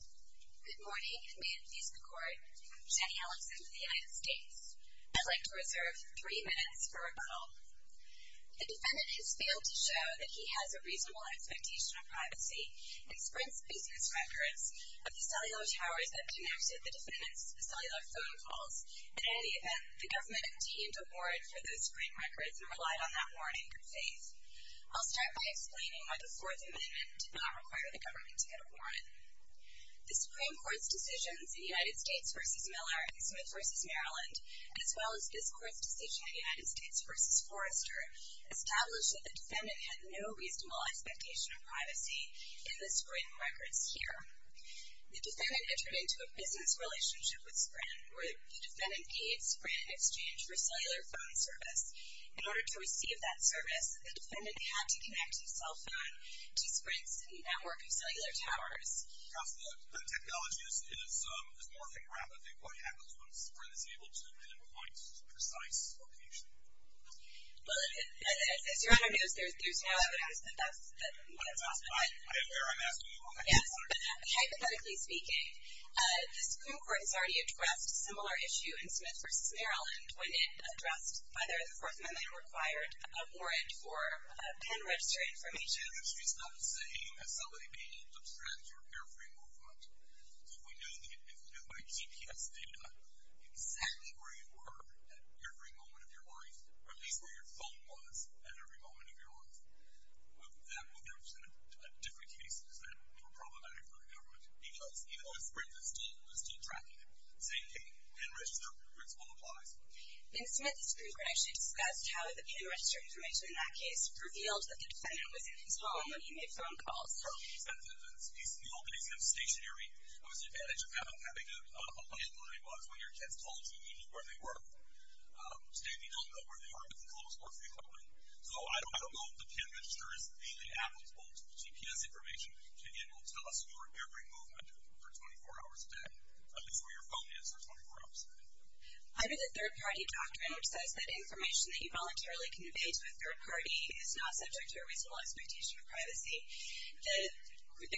Good morning, and may it please the Court, I'm Jenny Alexander of the United States. I'd like to reserve three minutes for rebuttal. The defendant has failed to show that he has a reasonable expectation of privacy and sprints business records of the cellular towers that denoted the defendant's cellular phone calls. In any event, the government obtained a warrant for those spring records and relied on that warrant in good faith. I'll start by explaining why the Fourth Amendment did not require the government to get a warrant. The Supreme Court's decisions in United States v. Miller and Smith v. Maryland, as well as this Court's decision in United States v. Forrester, established that the defendant had no reasonable expectation of privacy in the spring records here. The defendant entered into a business relationship with Sprint, where the defendant paid Sprint in exchange for cellular phone service. In order to receive that service, the defendant had to connect his cell phone to Sprint's network of cellular towers. Counsel, the technology is morphing rapidly. What happens when Sprint is able to pinpoint a precise location? Well, as you're on our news, there's no evidence that that's the case. I am there. I'm asking you all the questions. Yes, but hypothetically speaking, the Supreme Court has already addressed a similar issue in Smith v. Maryland when it addressed whether the Fourth Amendment required a warrant for pan-registered information. Pan-registered information is not the same as somebody being able to abstract your airframe movement. So if we knew by GPS data exactly where you were at every moment of your life, or at least where your phone was at every moment of your life, that would represent different cases that were problematic for the government. Because even though Sprint was still tracking it, same thing, pan-register principle applies. In Smith, the Supreme Court actually discussed how the pan-registered information in that case revealed that the defendant was in his home when he made phone calls. From the defendant's piece in the opening sentence stationary, what was the advantage of having a plan was when your kids told you, you knew where they were. Today, we don't know where they are with the close or free calling. So I don't know if the pan-register is really applicable to the GPS information Again, it will tell us where every movement for 24 hours a day, at least where your phone is for 24 hours a day. Under the third-party doctrine, which says that information that you voluntarily convey to a third party is not subject to a reasonable expectation of privacy, the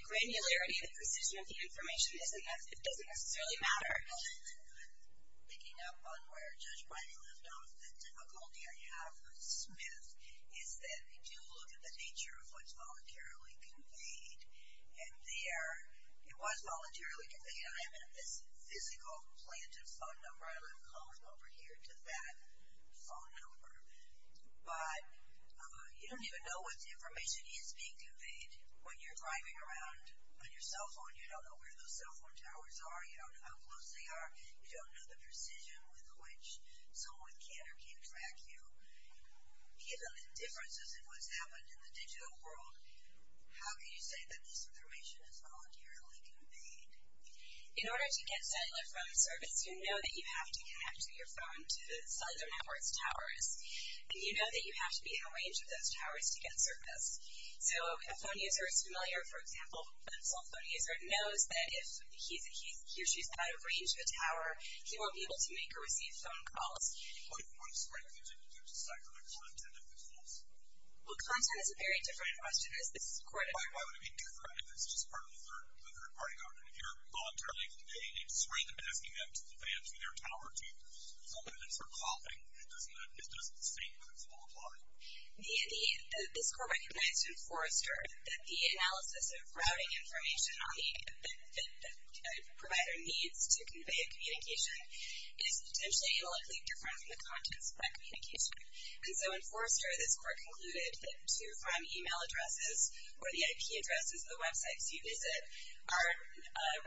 granularity and the precision of the information doesn't necessarily matter. Another thing that I'm picking up on where Judge Biden left off, the difficulty I have with Smith is that we do look at the nature of what's voluntarily conveyed. And there, it was voluntarily conveyed. I have this physical planted phone number, and I'm calling over here to that phone number. But you don't even know what information is being conveyed when you're driving around on your cell phone. You don't know where those cell phone towers are. You don't know how close they are. You don't know the precision with which someone can or can't track you. Given the differences in what's happened in the digital world, how can you say that this information is voluntarily conveyed? In order to get cellular phone service, you know that you have to connect to your phone to the cellular network's towers. And you know that you have to be in a range of those towers to get service. So if a phone user is familiar, for example, with a cell phone user, knows that if he or she is out of range of a tower, he won't be able to make or receive phone calls. What is the right thing to do to cycle the content of the calls? Well, content is a very different question. Why would it be different if it's just part of the third-party government? If you're voluntarily conveying, it's more than asking them to the van to their tower to call. It's more calling. It doesn't seem to fully apply. This court recognized in Forrester that the analysis of routing information that a provider needs to convey a communication is potentially analytically different from the contents of that communication. And so in Forrester, this court concluded that two prime e-mail addresses or the IP addresses of the websites you visit are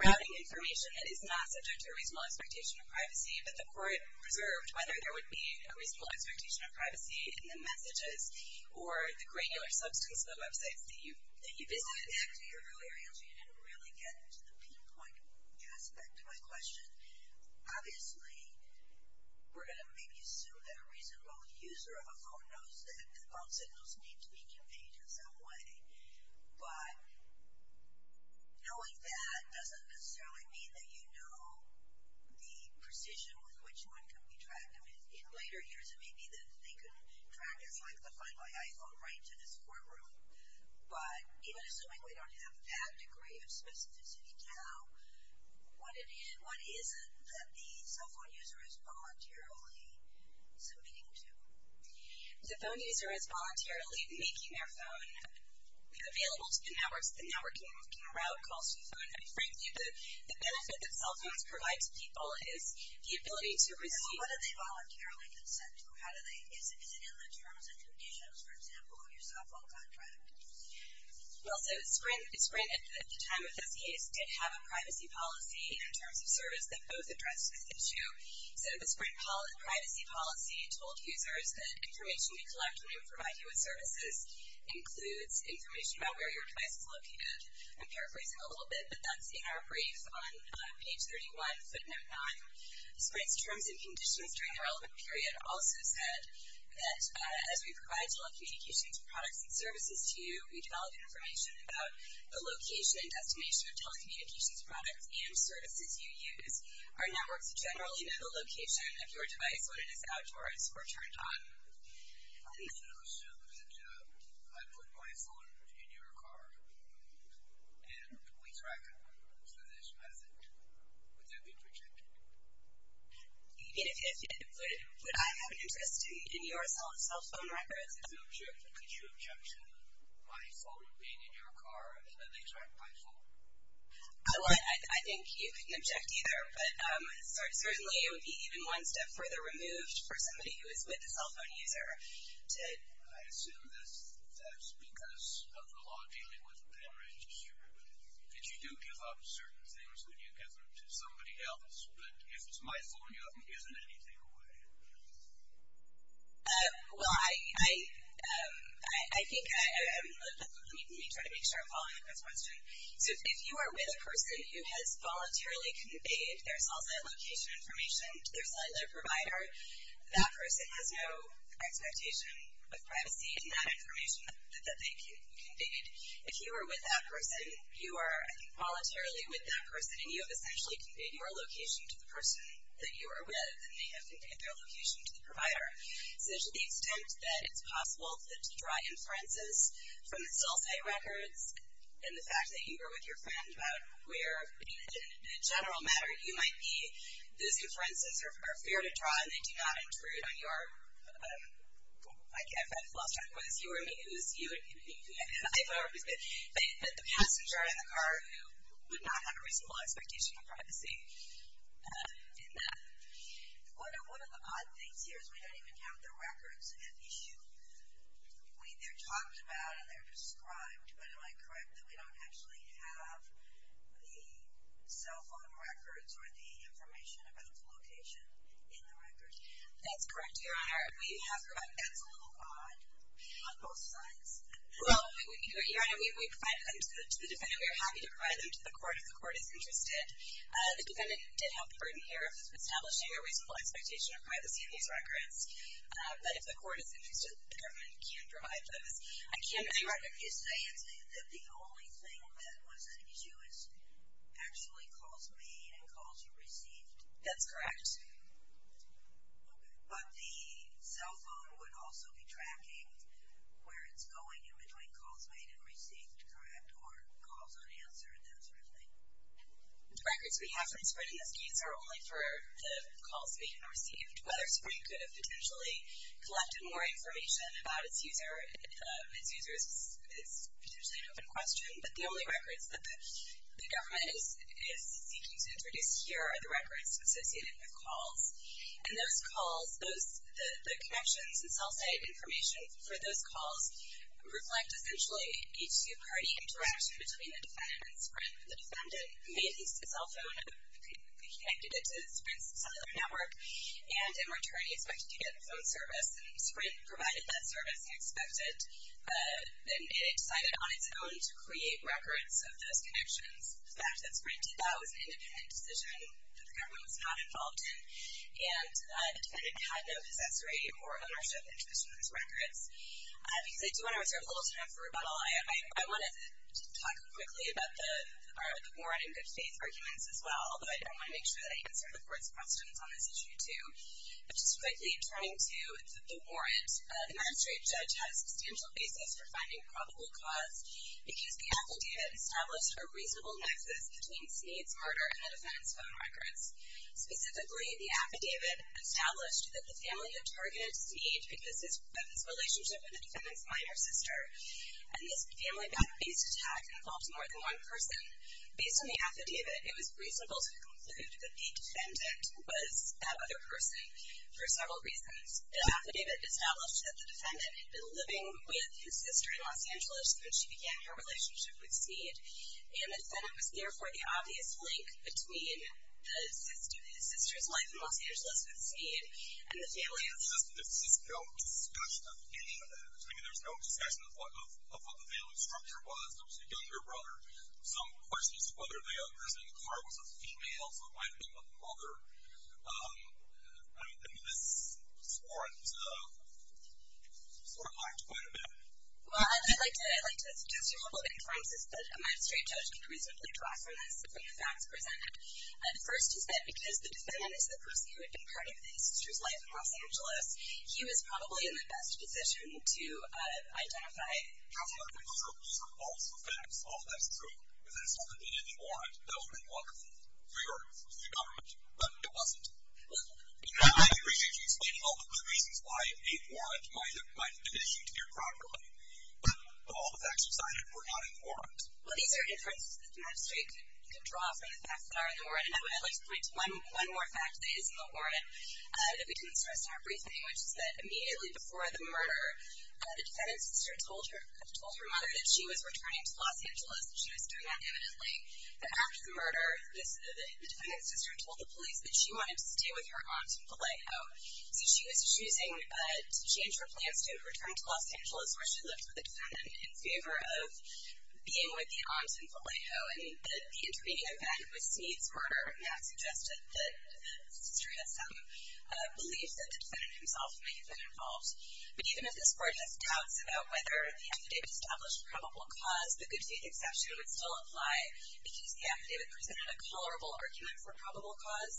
routing information that is not subject to a reasonable expectation of privacy. But the court reserved whether there would be a reasonable expectation of privacy in the messages or the granular substance of the websites that you visit. Back to your earlier answer, you didn't really get to the pinpoint aspect of my question. Obviously, we're going to maybe assume that a reasonable user of a phone knows that the phone signals need to be conveyed in some way. But knowing that doesn't necessarily mean that you know the precision with which one can be tracked. I mean, in later years, it may be that they could track as, like, the Find My iPhone right to this courtroom. But even assuming we don't have that degree of specificity now, what is it that the cell phone user is voluntarily submitting to? The phone user is voluntarily making their phone available to the network. The network can route calls to the phone. I mean, frankly, the benefit that cell phones provide to people is the ability to receive. Well, what do they voluntarily consent to? Is it in the terms and conditions, for example, of your cell phone contract? Well, so Sprint at the time of this case did have a privacy policy in terms of service that both addressed this issue. So the Sprint privacy policy told users that information we collect when we provide you with services includes information about where your device is located. I'm paraphrasing a little bit, but that's in our brief on page 31, footnote 9. Sprint's terms and conditions during the relevant period also said that, as we provide telecommunications products and services to you, we develop information about the location and destination of telecommunications products and services you use. Our networks generally know the location of your device when it is outdoors or turned on. I'm going to assume that I put my phone in your car and we track it. So this method, would that be protected? If you did, would I have an interest in your cell phone records? I'm not sure. Could you object to my phone being in your car and that they track my phone? I think you can object either, but certainly it would be even one step further removed for somebody who is with a cell phone user. I assume that's because of the law dealing with pen register. And you do give up certain things when you give them to somebody else, but if it's my phone, you haven't given anything away. Well, I think I'm going to try to make sure I'm following up on this question. So if you are with a person who has voluntarily conveyed their cell site location information to their cellular provider, that person has no expectation of privacy in that information that they conveyed. If you are with that person, you are, I think, voluntarily with that person, and you have essentially conveyed your location to the person that you are with, and they have conveyed their location to the provider. So to the extent that it's possible to draw inferences from the cell site records and the fact that you are with your friend about where, in a general matter, you might be, those inferences are fair to draw, and they do not intrude on your, like I've had a flashback, whether it was you or me, it was you and me, and I've always been the passenger in the car who would not have a reasonable expectation of privacy in that. One of the odd things here is we don't even have the records at issue. They're talked about and they're described, but am I correct that we don't actually have the cell phone records or the information about the location in the records? That's correct, Your Honor. That's a little odd on both sides. Well, Your Honor, we provided them to the defendant. We are happy to provide them to the court if the court is interested. The defendant did have the burden here of establishing a reasonable expectation of privacy in these records, but if the court is interested, the government can provide those. I can't make a record. Are you saying that the only thing that was at issue was actually calls made and calls received? That's correct. But the cell phone would also be tracking where it's going in between calls made and received, correct, or calls unanswered, that sort of thing? The records we have from Sprint in this case are only for the calls made and received. Whether Sprint could have potentially collected more information about its user is potentially an open question, but the only records that the government is seeking to introduce here are the records associated with calls. And those calls, the connections and cell site information for those calls reflect essentially a two-party interaction between the defendant and Sprint. The defendant made his cell phone, connected it to Sprint's cellular network, and in return he expected to get a phone service, and Sprint provided that service, he expected. And it decided on its own to create records of those connections. The fact that Sprint did that was an independent decision that the government was not involved in, and the defendant had no possessory or ownership interest in those records. Because I do want to reserve a little time for rebuttal. I want to talk quickly about the warrant and good faith arguments as well, but I want to make sure that I answer the Court's questions on this issue too. Just quickly turning to the warrant. The magistrate judge had a substantial basis for finding probable cause because the affidavit established a reasonable nexus between Snead's murder and the defendant's phone records. Specifically, the affidavit established that the family had targeted Snead because of his relationship with the defendant's minor sister, and this family-based attack involved more than one person. Based on the affidavit, it was reasonable to conclude that the defendant was that other person for several reasons. The affidavit established that the defendant had been living with his sister in Los Angeles when she began her relationship with Snead, and the defendant was therefore the obvious link between his sister's life in Los Angeles with Snead and the family of the defendant. There's no discussion of any of that. I mean, there's no discussion of what the family structure was. There was a younger brother. Some questions whether the other person in the car was a female, so it might have been a mother. I mean, this warrant sort of lacked quite a bit. Well, I'd like to suggest a couple of confirmances that a magistrate judge can reasonably draw from this, from the facts presented. The first is that because the defendant is the person who had been part of his sister's life in Los Angeles, he was probably in the best position to identify. Absolutely. Those are also facts. All of that's true. This hasn't been in the warrant. That would have been wonderful for your government, but it wasn't. I appreciate you explaining all of the reasons why a warrant might have been issued here properly, but all the facts are cited were not in the warrant. Well, these are inferences that the magistrate could draw from the facts that are in the warrant. And I would like to point to one more fact that is in the warrant that we can sort of start briefing, which is that immediately before the murder, the defendant's sister told her mother that she was returning to Los Angeles and she was doing that evidently. But after the murder, the defendant's sister told the police that she wanted to stay with her aunt in Vallejo. So she was choosing to change her plans to return to Los Angeles, where she lived with the defendant, in favor of being with the aunt in Vallejo. And the intervening event was Snead's murder, and that suggested that the sister had some belief that the defendant himself may have been involved. But even if this court just doubts about whether the affidavit established probable cause, the good faith exception would still apply, because the affidavit presented a colorable argument for probable cause.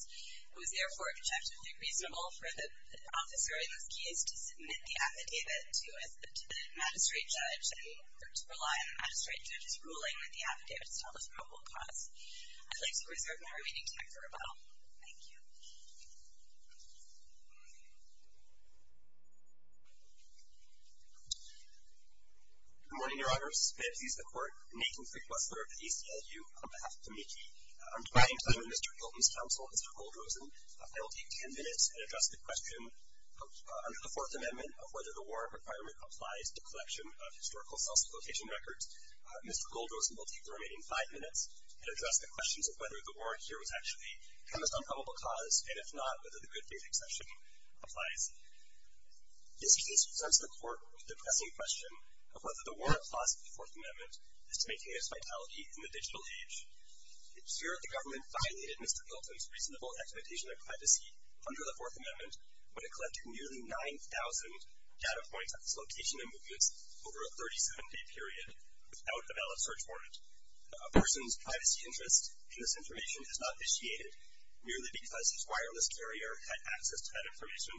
It was, therefore, objectively reasonable for the officer in this case to submit the affidavit to the magistrate judge and to rely on the magistrate judge's ruling with the affidavit to tell the probable cause. I'd like to reserve my remaining time for rebuttal. Thank you. Good morning, Your Honors. May it please the Court. Nathan Frequistler of the ACLU, on behalf of TAMIKI. I'm trying to let Mr. Hilton's counsel, Mr. Goldrosen, if I will take ten minutes and address the question under the Fourth Amendment of whether the warrant requirement applies to collection of historical self-replication records. Mr. Goldrosen will take the remaining five minutes and address the questions of whether the warrant here was actually kind of an unprobable cause, and if not, whether the good faith exception applies. This case presents the Court with the pressing question of whether the warrant clause of the Fourth Amendment is to maintain its vitality in the digital age. Here, the government violated Mr. Hilton's reasonable expectation of privacy under the Fourth Amendment when it collected nearly 9,000 data points of dislocation and movements over a 37-day period without a valid search warrant. A person's privacy interest in this information is not vitiated merely because his wireless carrier had access to that information,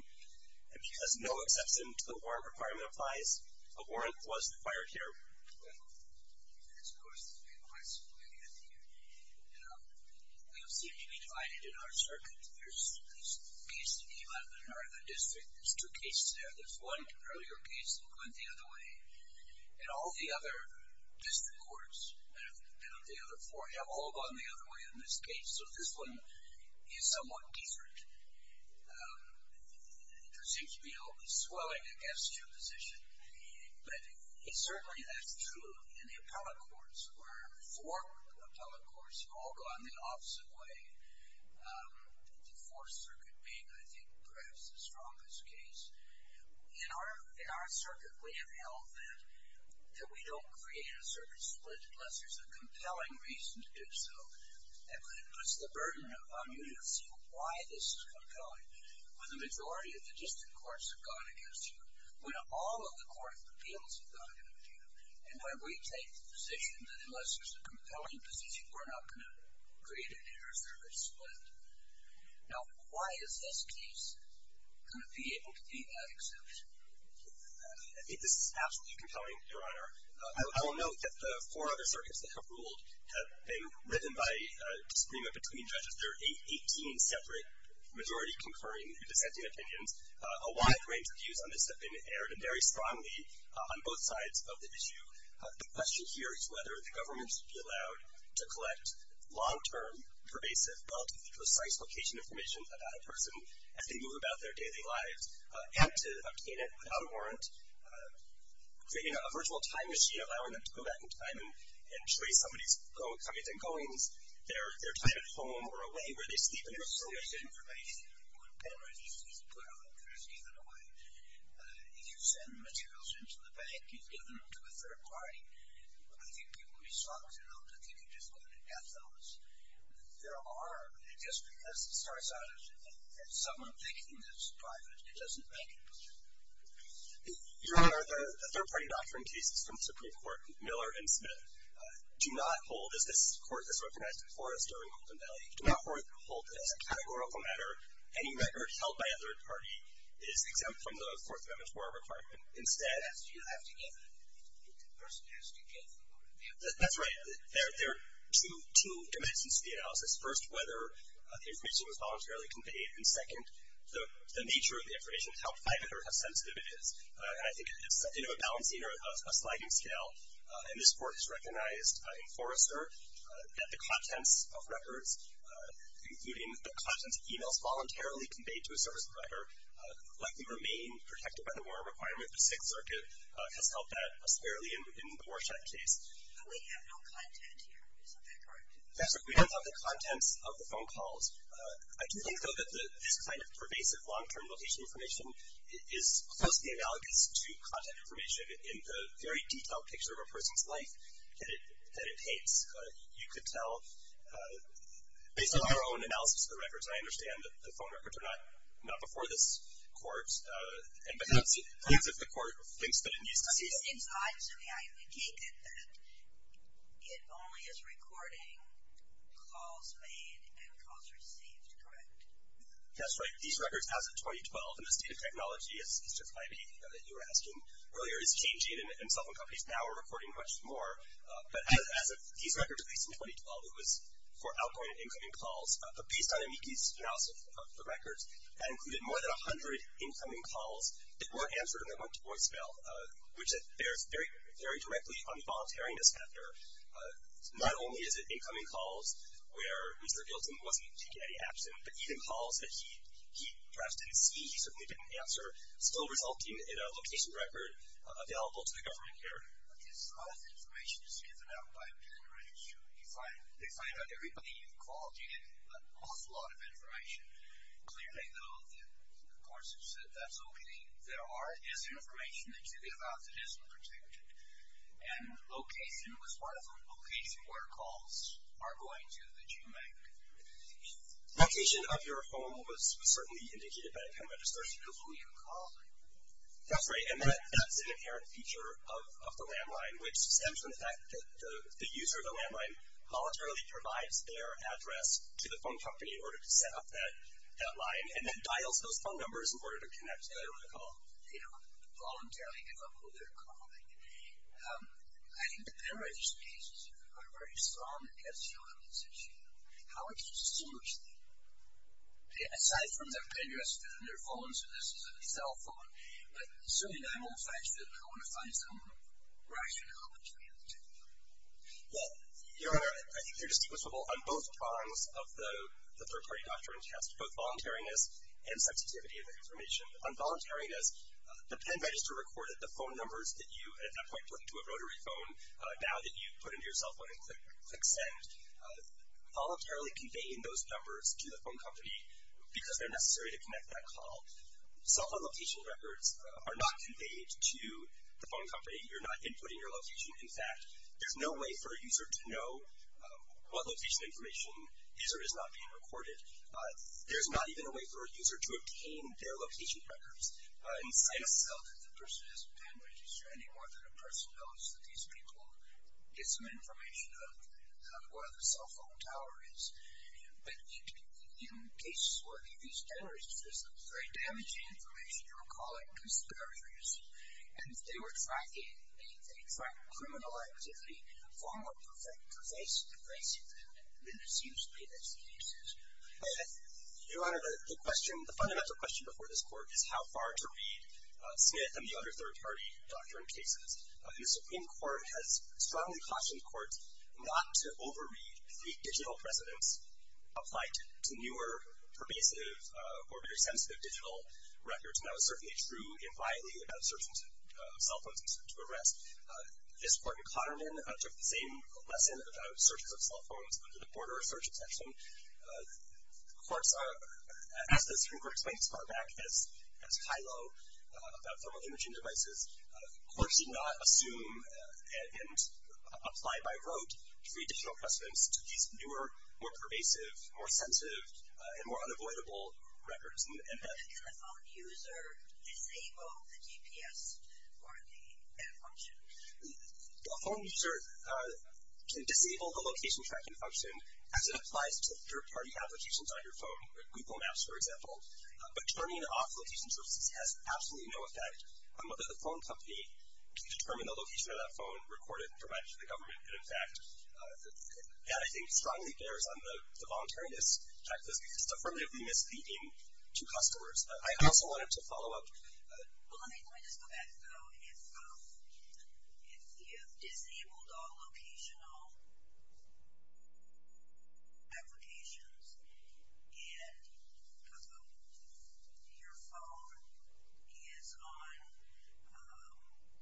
and because no exception to the warrant requirement applies, a warrant was acquired here. Thank you. And, of course, it's been quite some time here at the ACLU, and we have seemed to be divided in our circuits. There's cases in the 11th and 11th District. There's two cases there. There's one earlier case that went the other way, and all the other district courts that have been on the other floor have all gone the other way in this case, so this one is somewhat different. There seems to be a swelling against your position, but certainly that's true in the appellate courts, where four appellate courts have all gone the opposite way, the Fourth Circuit being, I think, perhaps the strongest case. In our circuit, we have held that we don't create a circuit split unless there's a compelling reason to do so, and it puts the burden upon you to see why this is compelling, when the majority of the district courts have gone against you, when all of the court appeals have gone against you, and where we take the position that unless there's a compelling position, we're not going to create an inter-circuit split. Now, why is this case going to be able to be that exception? I think this is absolutely compelling, Your Honor. I will note that the four other circuits that have ruled have been ridden by disagreement between judges. There are 18 separate majority-conferring dissenting opinions. A wide range of views on this have been aired, and very strongly on both sides of the issue. The question here is whether the government should be allowed to collect long-term, pervasive, relatively precise location information about a person as they move about their daily lives, and to obtain it without a warrant, creating a virtual time machine allowing them to go back in time and trace somebody's comings and goings, their time at home or away where they sleep, and there's so much information. One of the penalties is to put all that information away. If you send materials into the bank, you give them to a third party. I think people would be shocked. I don't think you just go in and get those. There are, just because it starts out as someone thinking this is private, it doesn't make it public. Your Honor, the third-party doctrine cases from the Supreme Court, Miller and Smith, do not hold, as this Court has recognized before us during Holden Valley, do not hold that as a categorical matter, any record held by a third party is exempt from the Fourth Amendment's warrant requirement. That's right. There are two dimensions to the analysis. First, whether the information was voluntarily conveyed, and second, the nature of the information, how private or how sensitive it is. And I think, you know, a balancing or a sliding scale, and this Court has recognized before us, sir, that the contents of records, including the contents of emails voluntarily conveyed to a service provider, likely remain protected by the warrant requirement. The Sixth Circuit has helped us fairly in the Warshak case. But we have no content here. Is that correct? That's right. We don't have the contents of the phone calls. I do think, though, that this kind of pervasive long-term location information is closely analogous to content information in the very detailed picture of a person's life that it paints. You could tell, based on our own analysis of the records, and I understand that the phone records are not before this Court, but that's if the Court thinks that it needs to see it. It's odd to me. I take it that it only is recording calls made and calls received. Correct? That's right. These records, as of 2012, in the state of technology, as Mr. Cliby, you know, that you were asking earlier, is changing, and cell phone companies now are recording much more. But as of these records, at least in 2012, it was for outgoing and incoming calls. But based on Amiki's analysis of the records, that included more than 100 incoming calls that were answered and that went to voicemail, which bears very directly on the voluntariness factor. Not only is it incoming calls where Mr. Gilson wasn't taking any action, but even calls that he perhaps didn't see, he certainly didn't answer, still resulting in a location record available to the government here. Okay, so all this information is given out by billionaires who find out everybody you've called. You get an awful lot of information. Clearly, though, the courts have said that's okay. There is information that you give out that isn't protected. And location was part of them. Location where calls are going to that you make. Location of your phone was certainly indicated by the time of registration. It was who you were calling. That's right, and that's an inherent feature of the landline, which stems from the fact that the user of the landline voluntarily provides their address to the phone company in order to set up that line and then dials those phone numbers in order to connect to whoever they call. They don't voluntarily give up who they're calling. I think the pen writer's cases are very strong against the elements of shielding. How would consumers think? Aside from their pen dresses and their phones, and this is a cell phone, but certainly that won't affect them. I want to find some rationale between the two. Well, your Honor, I think they're distinguishable on both prongs of the third-party doctrine test, both voluntariness and sensitivity of the information. On voluntariness, the pen register recorded the phone numbers that you at that point put into a rotary phone now that you've put into your cell phone and click send. Voluntarily conveying those numbers to the phone company because they're necessary to connect that call. Cell phone location records are not conveyed to the phone company. You're not inputting your location. In fact, there's no way for a user to know what location information user is not being recorded. There's not even a way for a user to obtain their location records inside a cell. I don't think the person has a pen register any more than a person knows that these people get some information of where the cell phone tower is. But in cases where these pen registers, there's some very damaging information, you're calling conspirators, and if they were tracking criminal activity formally pervasive, then it seems to me that's the case. Your Honor, the fundamental question before this court is how far to read Smith and the other third-party doctrine cases. The Supreme Court has strongly cautioned courts not to overread the digital precedents applied to newer, pervasive, or very sensitive digital records. And that was certainly true in Riley about searches of cell phones to arrest. This court in Cotterman took the same lesson about searches of cell phones under the border search extension. As the Supreme Court explained as far back as Hilo about thermal imaging devices, courts did not assume and apply by rote to read digital precedents to these newer, more pervasive, more sensitive, and more unavoidable records. But can the phone user disable the GPS or the function? The phone user can disable the location tracking function as it applies to third-party applications on your phone, like Google Maps, for example. But turning off location services has absolutely no effect on whether the phone company can determine the location of that phone, record it, and provide it to the government. And in fact, that I think strongly bears on the voluntariness practice because it's affirmatively misleading to customers. I also wanted to follow up. Well, let me just go back, though. If you've disabled all locational applications and your phone is on,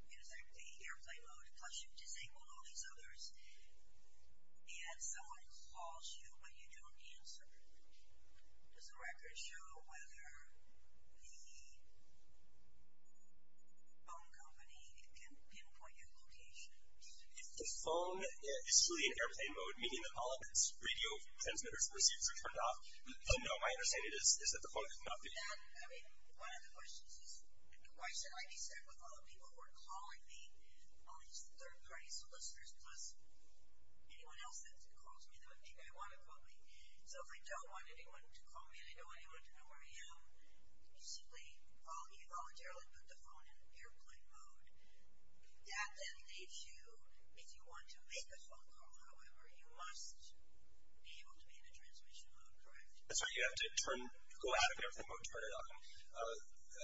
in effect, the airplane mode, plus you've disabled all these others, and someone calls you but you don't answer, does the record show whether the phone company can pinpoint your location? If the phone is truly in airplane mode, meaning that all of its radio transmitters and receivers are turned off, then no, my understanding is that the phone is not being used. And, I mean, one of the questions is, why should I be sad with all the people who are calling me, all these third-party solicitors, plus anyone else that calls me that would think I want to call me? So if I don't want anyone to call me and I don't want anyone to know where I am, you simply voluntarily put the phone in airplane mode. That then leaves you, if you want to make a phone call, however, you must be able to be in a transmission mode, correct? That's right. You have to go out of airplane mode and turn it on.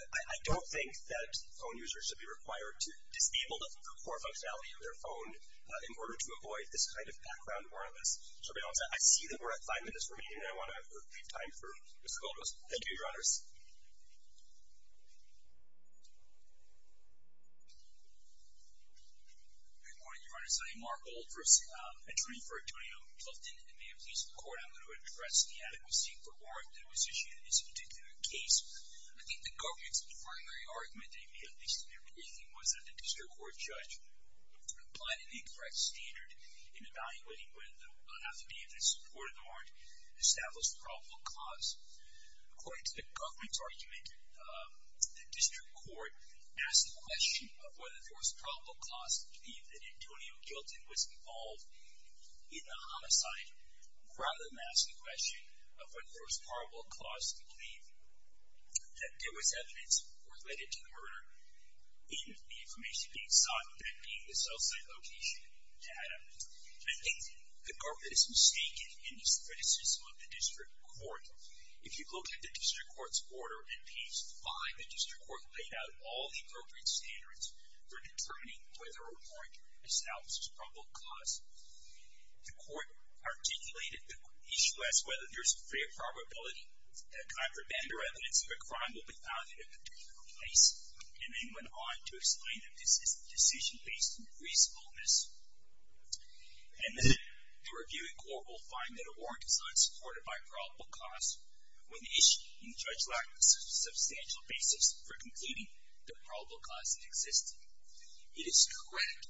I don't think that phone users should be required to disable the core functionality of their phone in order to avoid this kind of background awareness surveillance. I see that we're at five minutes remaining, and I want to leave time for Mr. Goldrose. Thank you, Your Honors. Good morning, Your Honors. I am Mark Goldrose, attorney for Antonio Clifton. And may it please the Court, I'm going to address the adequacy for warrant that was issued in this particular case. I think the government's primary argument, at least in their briefing, was that the district court judge applied an incorrect standard in evaluating whether the affidavit in support of the warrant established probable cause. According to the government's argument, the district court asked the question of whether there was probable cause to believe that Antonio Clifton was involved in the homicide rather than ask the question of whether there was probable cause to believe that there was evidence related to the murder in the information being sought, that being the cell site location data. I think the government is mistaken in its criticism of the district court. If you look at the district court's order in page 5, the district court laid out all the appropriate standards for determining whether a warrant establishes probable cause. The court articulated the issue as whether there's a fair probability that a contraband or evidence of a crime will be found in a particular place, and then went on to explain that this is a decision based on reasonableness. And the reviewing court will find that a warrant is unsupported by probable cause when the issue being judged lacked a substantial basis for concluding that probable cause existed. It is correct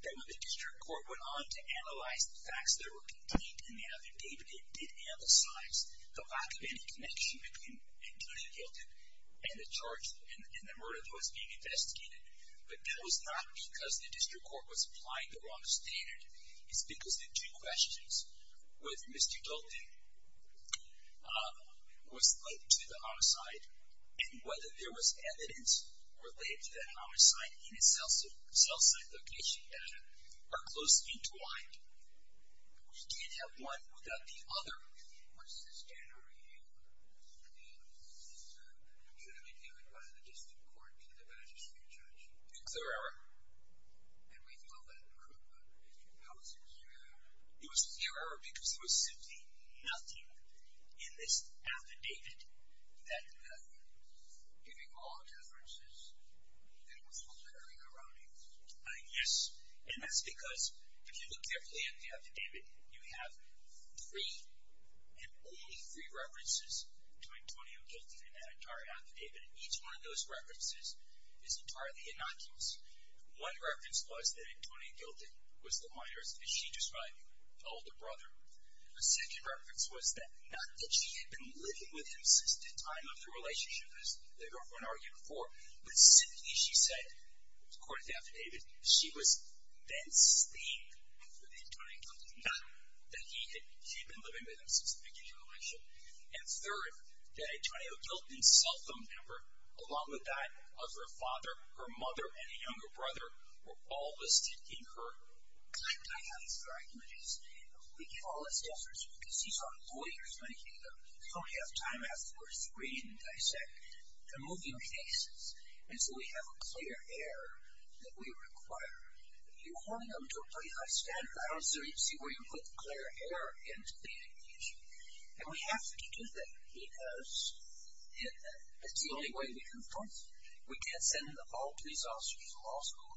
that when the district court went on to analyze the facts that were contained in the other data, it did emphasize the lack of any connection between Antonio Clifton and the murder that was being investigated. But that was not because the district court was applying the wrong standard. It's because the two questions, whether Mr. Dalton was linked to the homicide and whether there was evidence related to that homicide in its cell site location data, are closely entwined. We can't have one without the other. What's the standard review? It should have been given by the district court to the magistrate judge. In clear error. And we know that could not have been true. How is it clear error? It was clear error because there was simply nothing in this affidavit that could have given all the differences that was occurring around it. Yes. And that's because if you look carefully at the affidavit, you have three and only three references to Antonio Clifton in that entire affidavit. And each one of those references is entirely innocuous. One reference was that Antonio Clifton was the minor, as she described him, elder brother. A second reference was that not that she had been living with him since the time of their relationship, as everyone argued before. But simply she said, according to the affidavit, she was then staying with Antonio Clifton, not that she had been living with him since the beginning of the relationship. And third, that Antonio Clifton's cell phone number, along with that of her father, her mother, and a younger brother, were all listed in her. I have these arguments. We give all these answers because these are lawyers making them. So we have time afterwards to read and dissect the moving cases. And so we have a clear air that we require. You're holding them to a pretty high standard. I don't see where you put clear air into beating the issue. And we have to do that, because it's the only way we confront them. We can't send all police officers to law school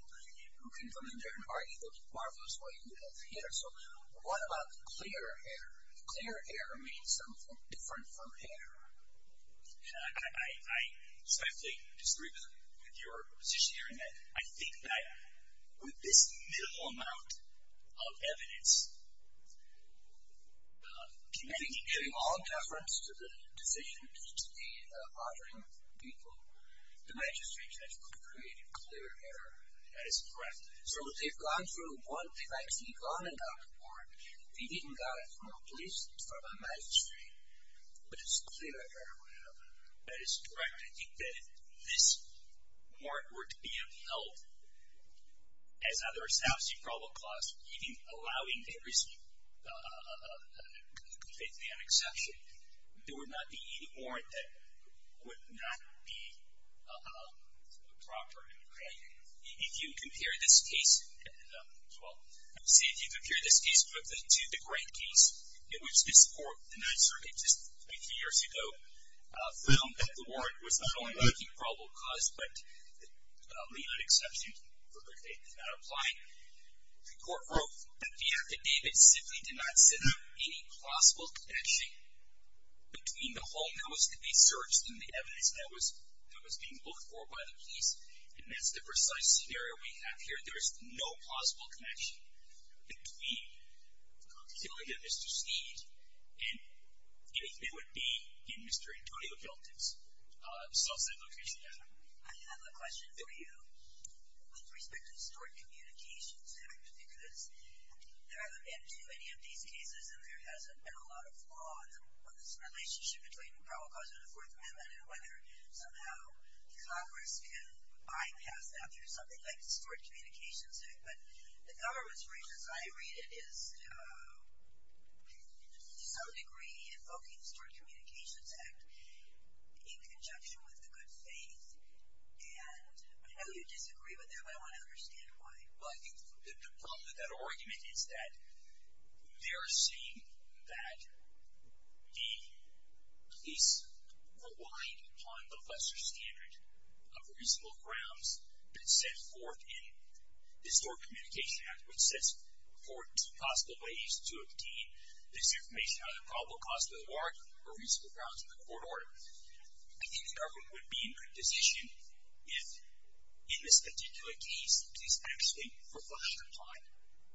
who can come in there and argue, look, marvelous way you have hit her. So what about clear air? Clear air means something different from hair. So I disagree with your position here in that I think that with this minimal amount of evidence, do you think giving all deference to the decision to be honoring people, the magistrate has created clear air? That is correct. So if they've gone through one thing, if they've actually gone and gotten a warrant, if they even got it from a police, from a magistrate, but it's clear air, whatever. That is correct. I think that if this warrant were to be upheld as under a South Sea Probable Clause, even allowing every state man exception, there would not be any warrant that would not be proper. If you compare this case to the Grant case, in which this court, the Ninth Circuit, just a few years ago, found that the warrant was not only making probable cause, but the exception for which they did not apply. The court wrote that the affidavit simply did not set up any plausible connection between the home that was to be searched and the evidence that was being looked for by the police. And that's the precise scenario we have here. There is no plausible connection between the killing of Mr. Steed and anything that would be in Mr. Antonio Celtic's South Side location. I have a question for you with respect to stored communications. Because there haven't been too many of these cases, and there hasn't been a lot of law on this relationship between the probable cause and the Fourth Amendment and whether somehow Congress can bypass that through something like the Stored Communications Act. But the government's reason, as I read it, is to some degree invoking the Stored Communications Act in conjunction with the good faith. And I know you disagree with that, but I want to understand why. Well, I think the problem with that argument is that they are saying that the police relied upon the lesser standard of reasonable grounds that's set forth in the Stored Communication Act, which sets forth two possible ways to obtain this information out of the probable cause of the warrant or reasonable grounds in the court order. I think the government would be in a good position if, in this particular case, the police actually were forced to apply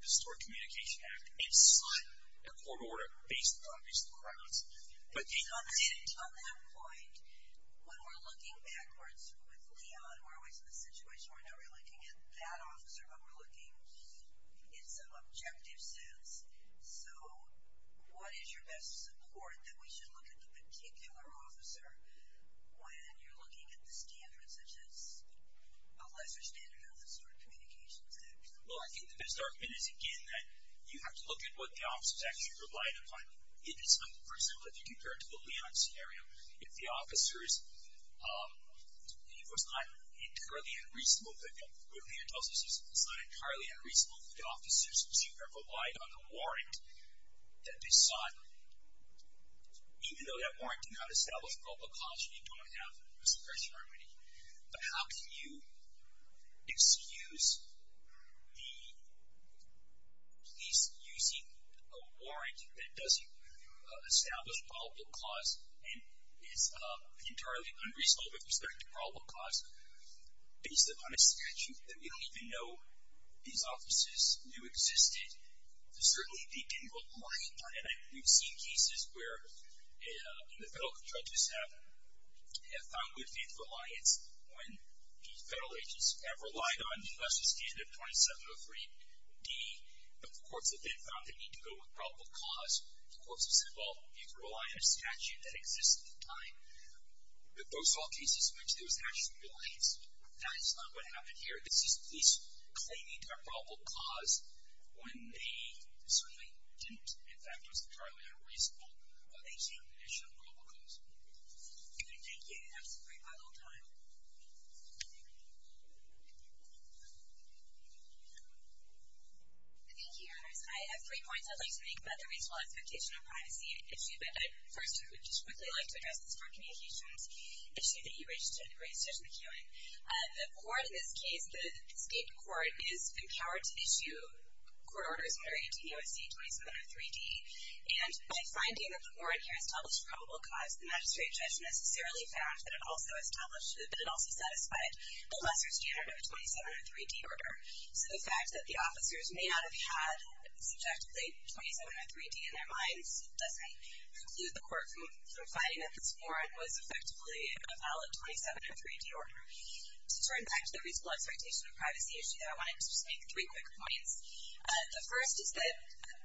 the Stored Communication Act inside the court order based on reasonable grounds. But they didn't. On that point, when we're looking backwards with Leon, who are always in a situation where now we're looking at that officer, but we're looking in some objective sense. So what is your best support that we should look at the particular officer when you're looking at the standards such as a lesser standard of the Stored Communication Act? Well, I think the best argument is, again, that you have to look at what the officers actually relied upon. For example, if you compare it to the Leon scenario, if the officers, it was not entirely unreasonable, but Leon tells us it's not entirely unreasonable for the officers to have relied on a warrant that they saw, even though that warrant did not establish probable cause, you don't have a suppression remedy. But how can you excuse the police using a warrant that doesn't establish probable cause and is entirely unreasonable with respect to probable cause based upon a statute that we don't even know these officers knew existed? Certainly, they didn't rely upon it. We've seen cases where the federal judges have found that they do advance reliance when the federal agents have relied on the lesser standard 2703D. But the courts have then found they need to go with probable cause. The courts have said, well, you can rely on a statute that exists at the time. But those are all cases in which there was actual reliance. That is not what happened here. The police claimed a probable cause when they certainly didn't. In fact, it was entirely unreasonable. They came with additional probable cause. Thank you. That was a great bundle of time. Thank you, Your Honors. I have three points I'd like to make about the reasonable expectation of privacy issue. But first, I would just quickly like to address this court communications issue that you raised, Judge McEwen. The court in this case, the state court, is empowered to issue court orders under ADEOC 2703D. And by finding that the warrant here established probable cause, the magistrate judge necessarily found that it also established that it also satisfied the lesser standard of a 2703D order. So the fact that the officers may not have had subjectively 2703D in their minds doesn't preclude the court from finding that this warrant was effectively a valid 2703D order. To turn back to the reasonable expectation of privacy issue, I wanted to just make three quick points. The first is that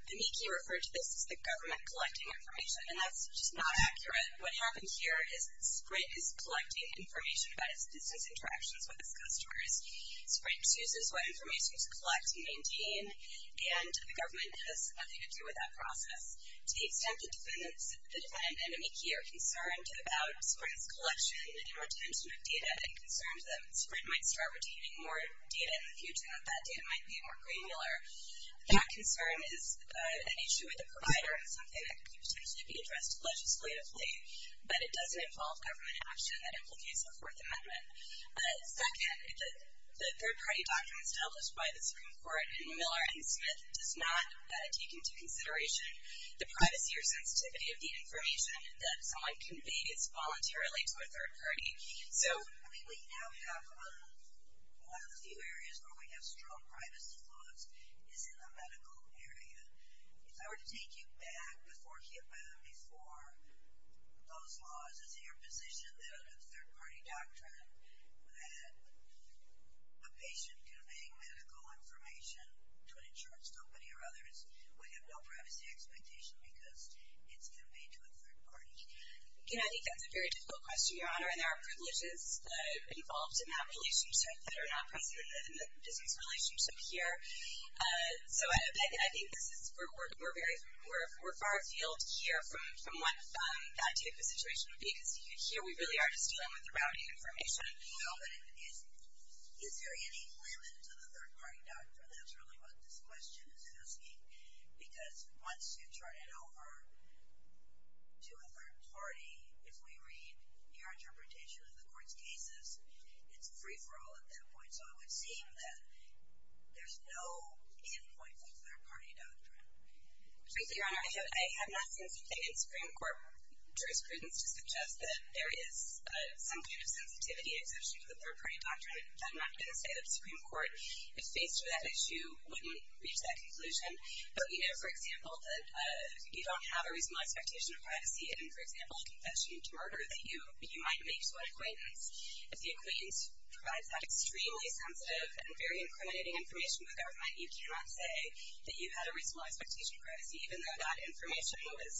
Amiki referred to this as the government collecting information. And that's just not accurate. What happened here is Sprint is collecting information about its business interactions with its customers. Sprint chooses what information to collect and maintain. And the government has nothing to do with that process. To the extent that the defendant and Amiki are concerned about Sprint's collection and retention of data that concerns them, Sprint might start retaining more data in the future, and that data might be more granular. That concern is an issue with the provider and something that could potentially be addressed legislatively. But it doesn't involve government action that implicates a Fourth Amendment. Second, the third party documents established by the Supreme Court and Miller and Smith does not take into consideration the privacy or sensitivity of the information that someone conveys voluntarily to a third party. So we now have one of the few areas where we have strong privacy laws is in the medical area. If I were to take you back before HIPAA, before those laws, is it your position that under the third party doctrine that a patient conveying medical information to an insurance company or others would have no privacy expectation because it's conveyed to a third party? Again, I think that's a very difficult question, Your Honor. And there are privileges involved in that relationship that are not presented in the business relationship here. So I think we're far afield here from what that type of situation would be. Because here we really are just dealing with the routing information. Is there any limit to the third party doctrine? That's really what this question is asking. Because once you turn it over to a third party, if we read your interpretation of the court's cases, it's a free-for-all at that point. So it would seem that there's no end point to the third party doctrine. Frankly, Your Honor, I have not seen something in Supreme Court jurisprudence to suggest that there is some kind of sensitivity and exception to the third party doctrine. I'm not going to say that the Supreme Court, if faced with that issue, wouldn't reach that conclusion. But for example, you don't have a reasonable expectation of privacy in, for example, a confession to murder that you might make to an acquaintance. If the acquaintance provides that extremely sensitive and very incriminating information with government, you cannot say that you've had a reasonable expectation of privacy, even though that information was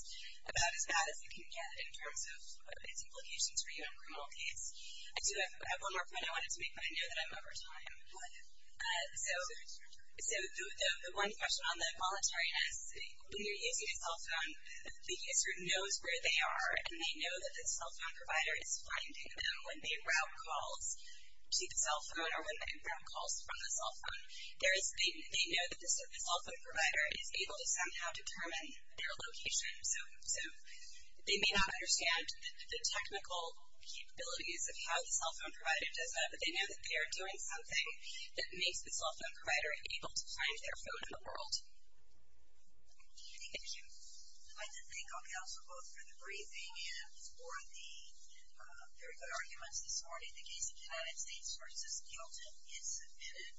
about as bad as it can get in terms of its implications for you in a criminal case. I do have one more point I wanted to make, but I know that I'm over time. So the one question on the voluntariness, when you're using a cell phone, the user knows where they are. And they know that the cell phone provider is finding them when they route calls to the cell phone or when they route calls from the cell phone. They know that the cell phone provider is able to somehow determine their location. So they may not understand the technical capabilities of how the cell phone provider does that, but they know that they are doing something that makes the cell phone provider able to find their phone in the world. Thank you. I'd like to thank all the panelists for both for the briefing and for the very good arguments this morning. The case of the United States v. Hilton is submitted.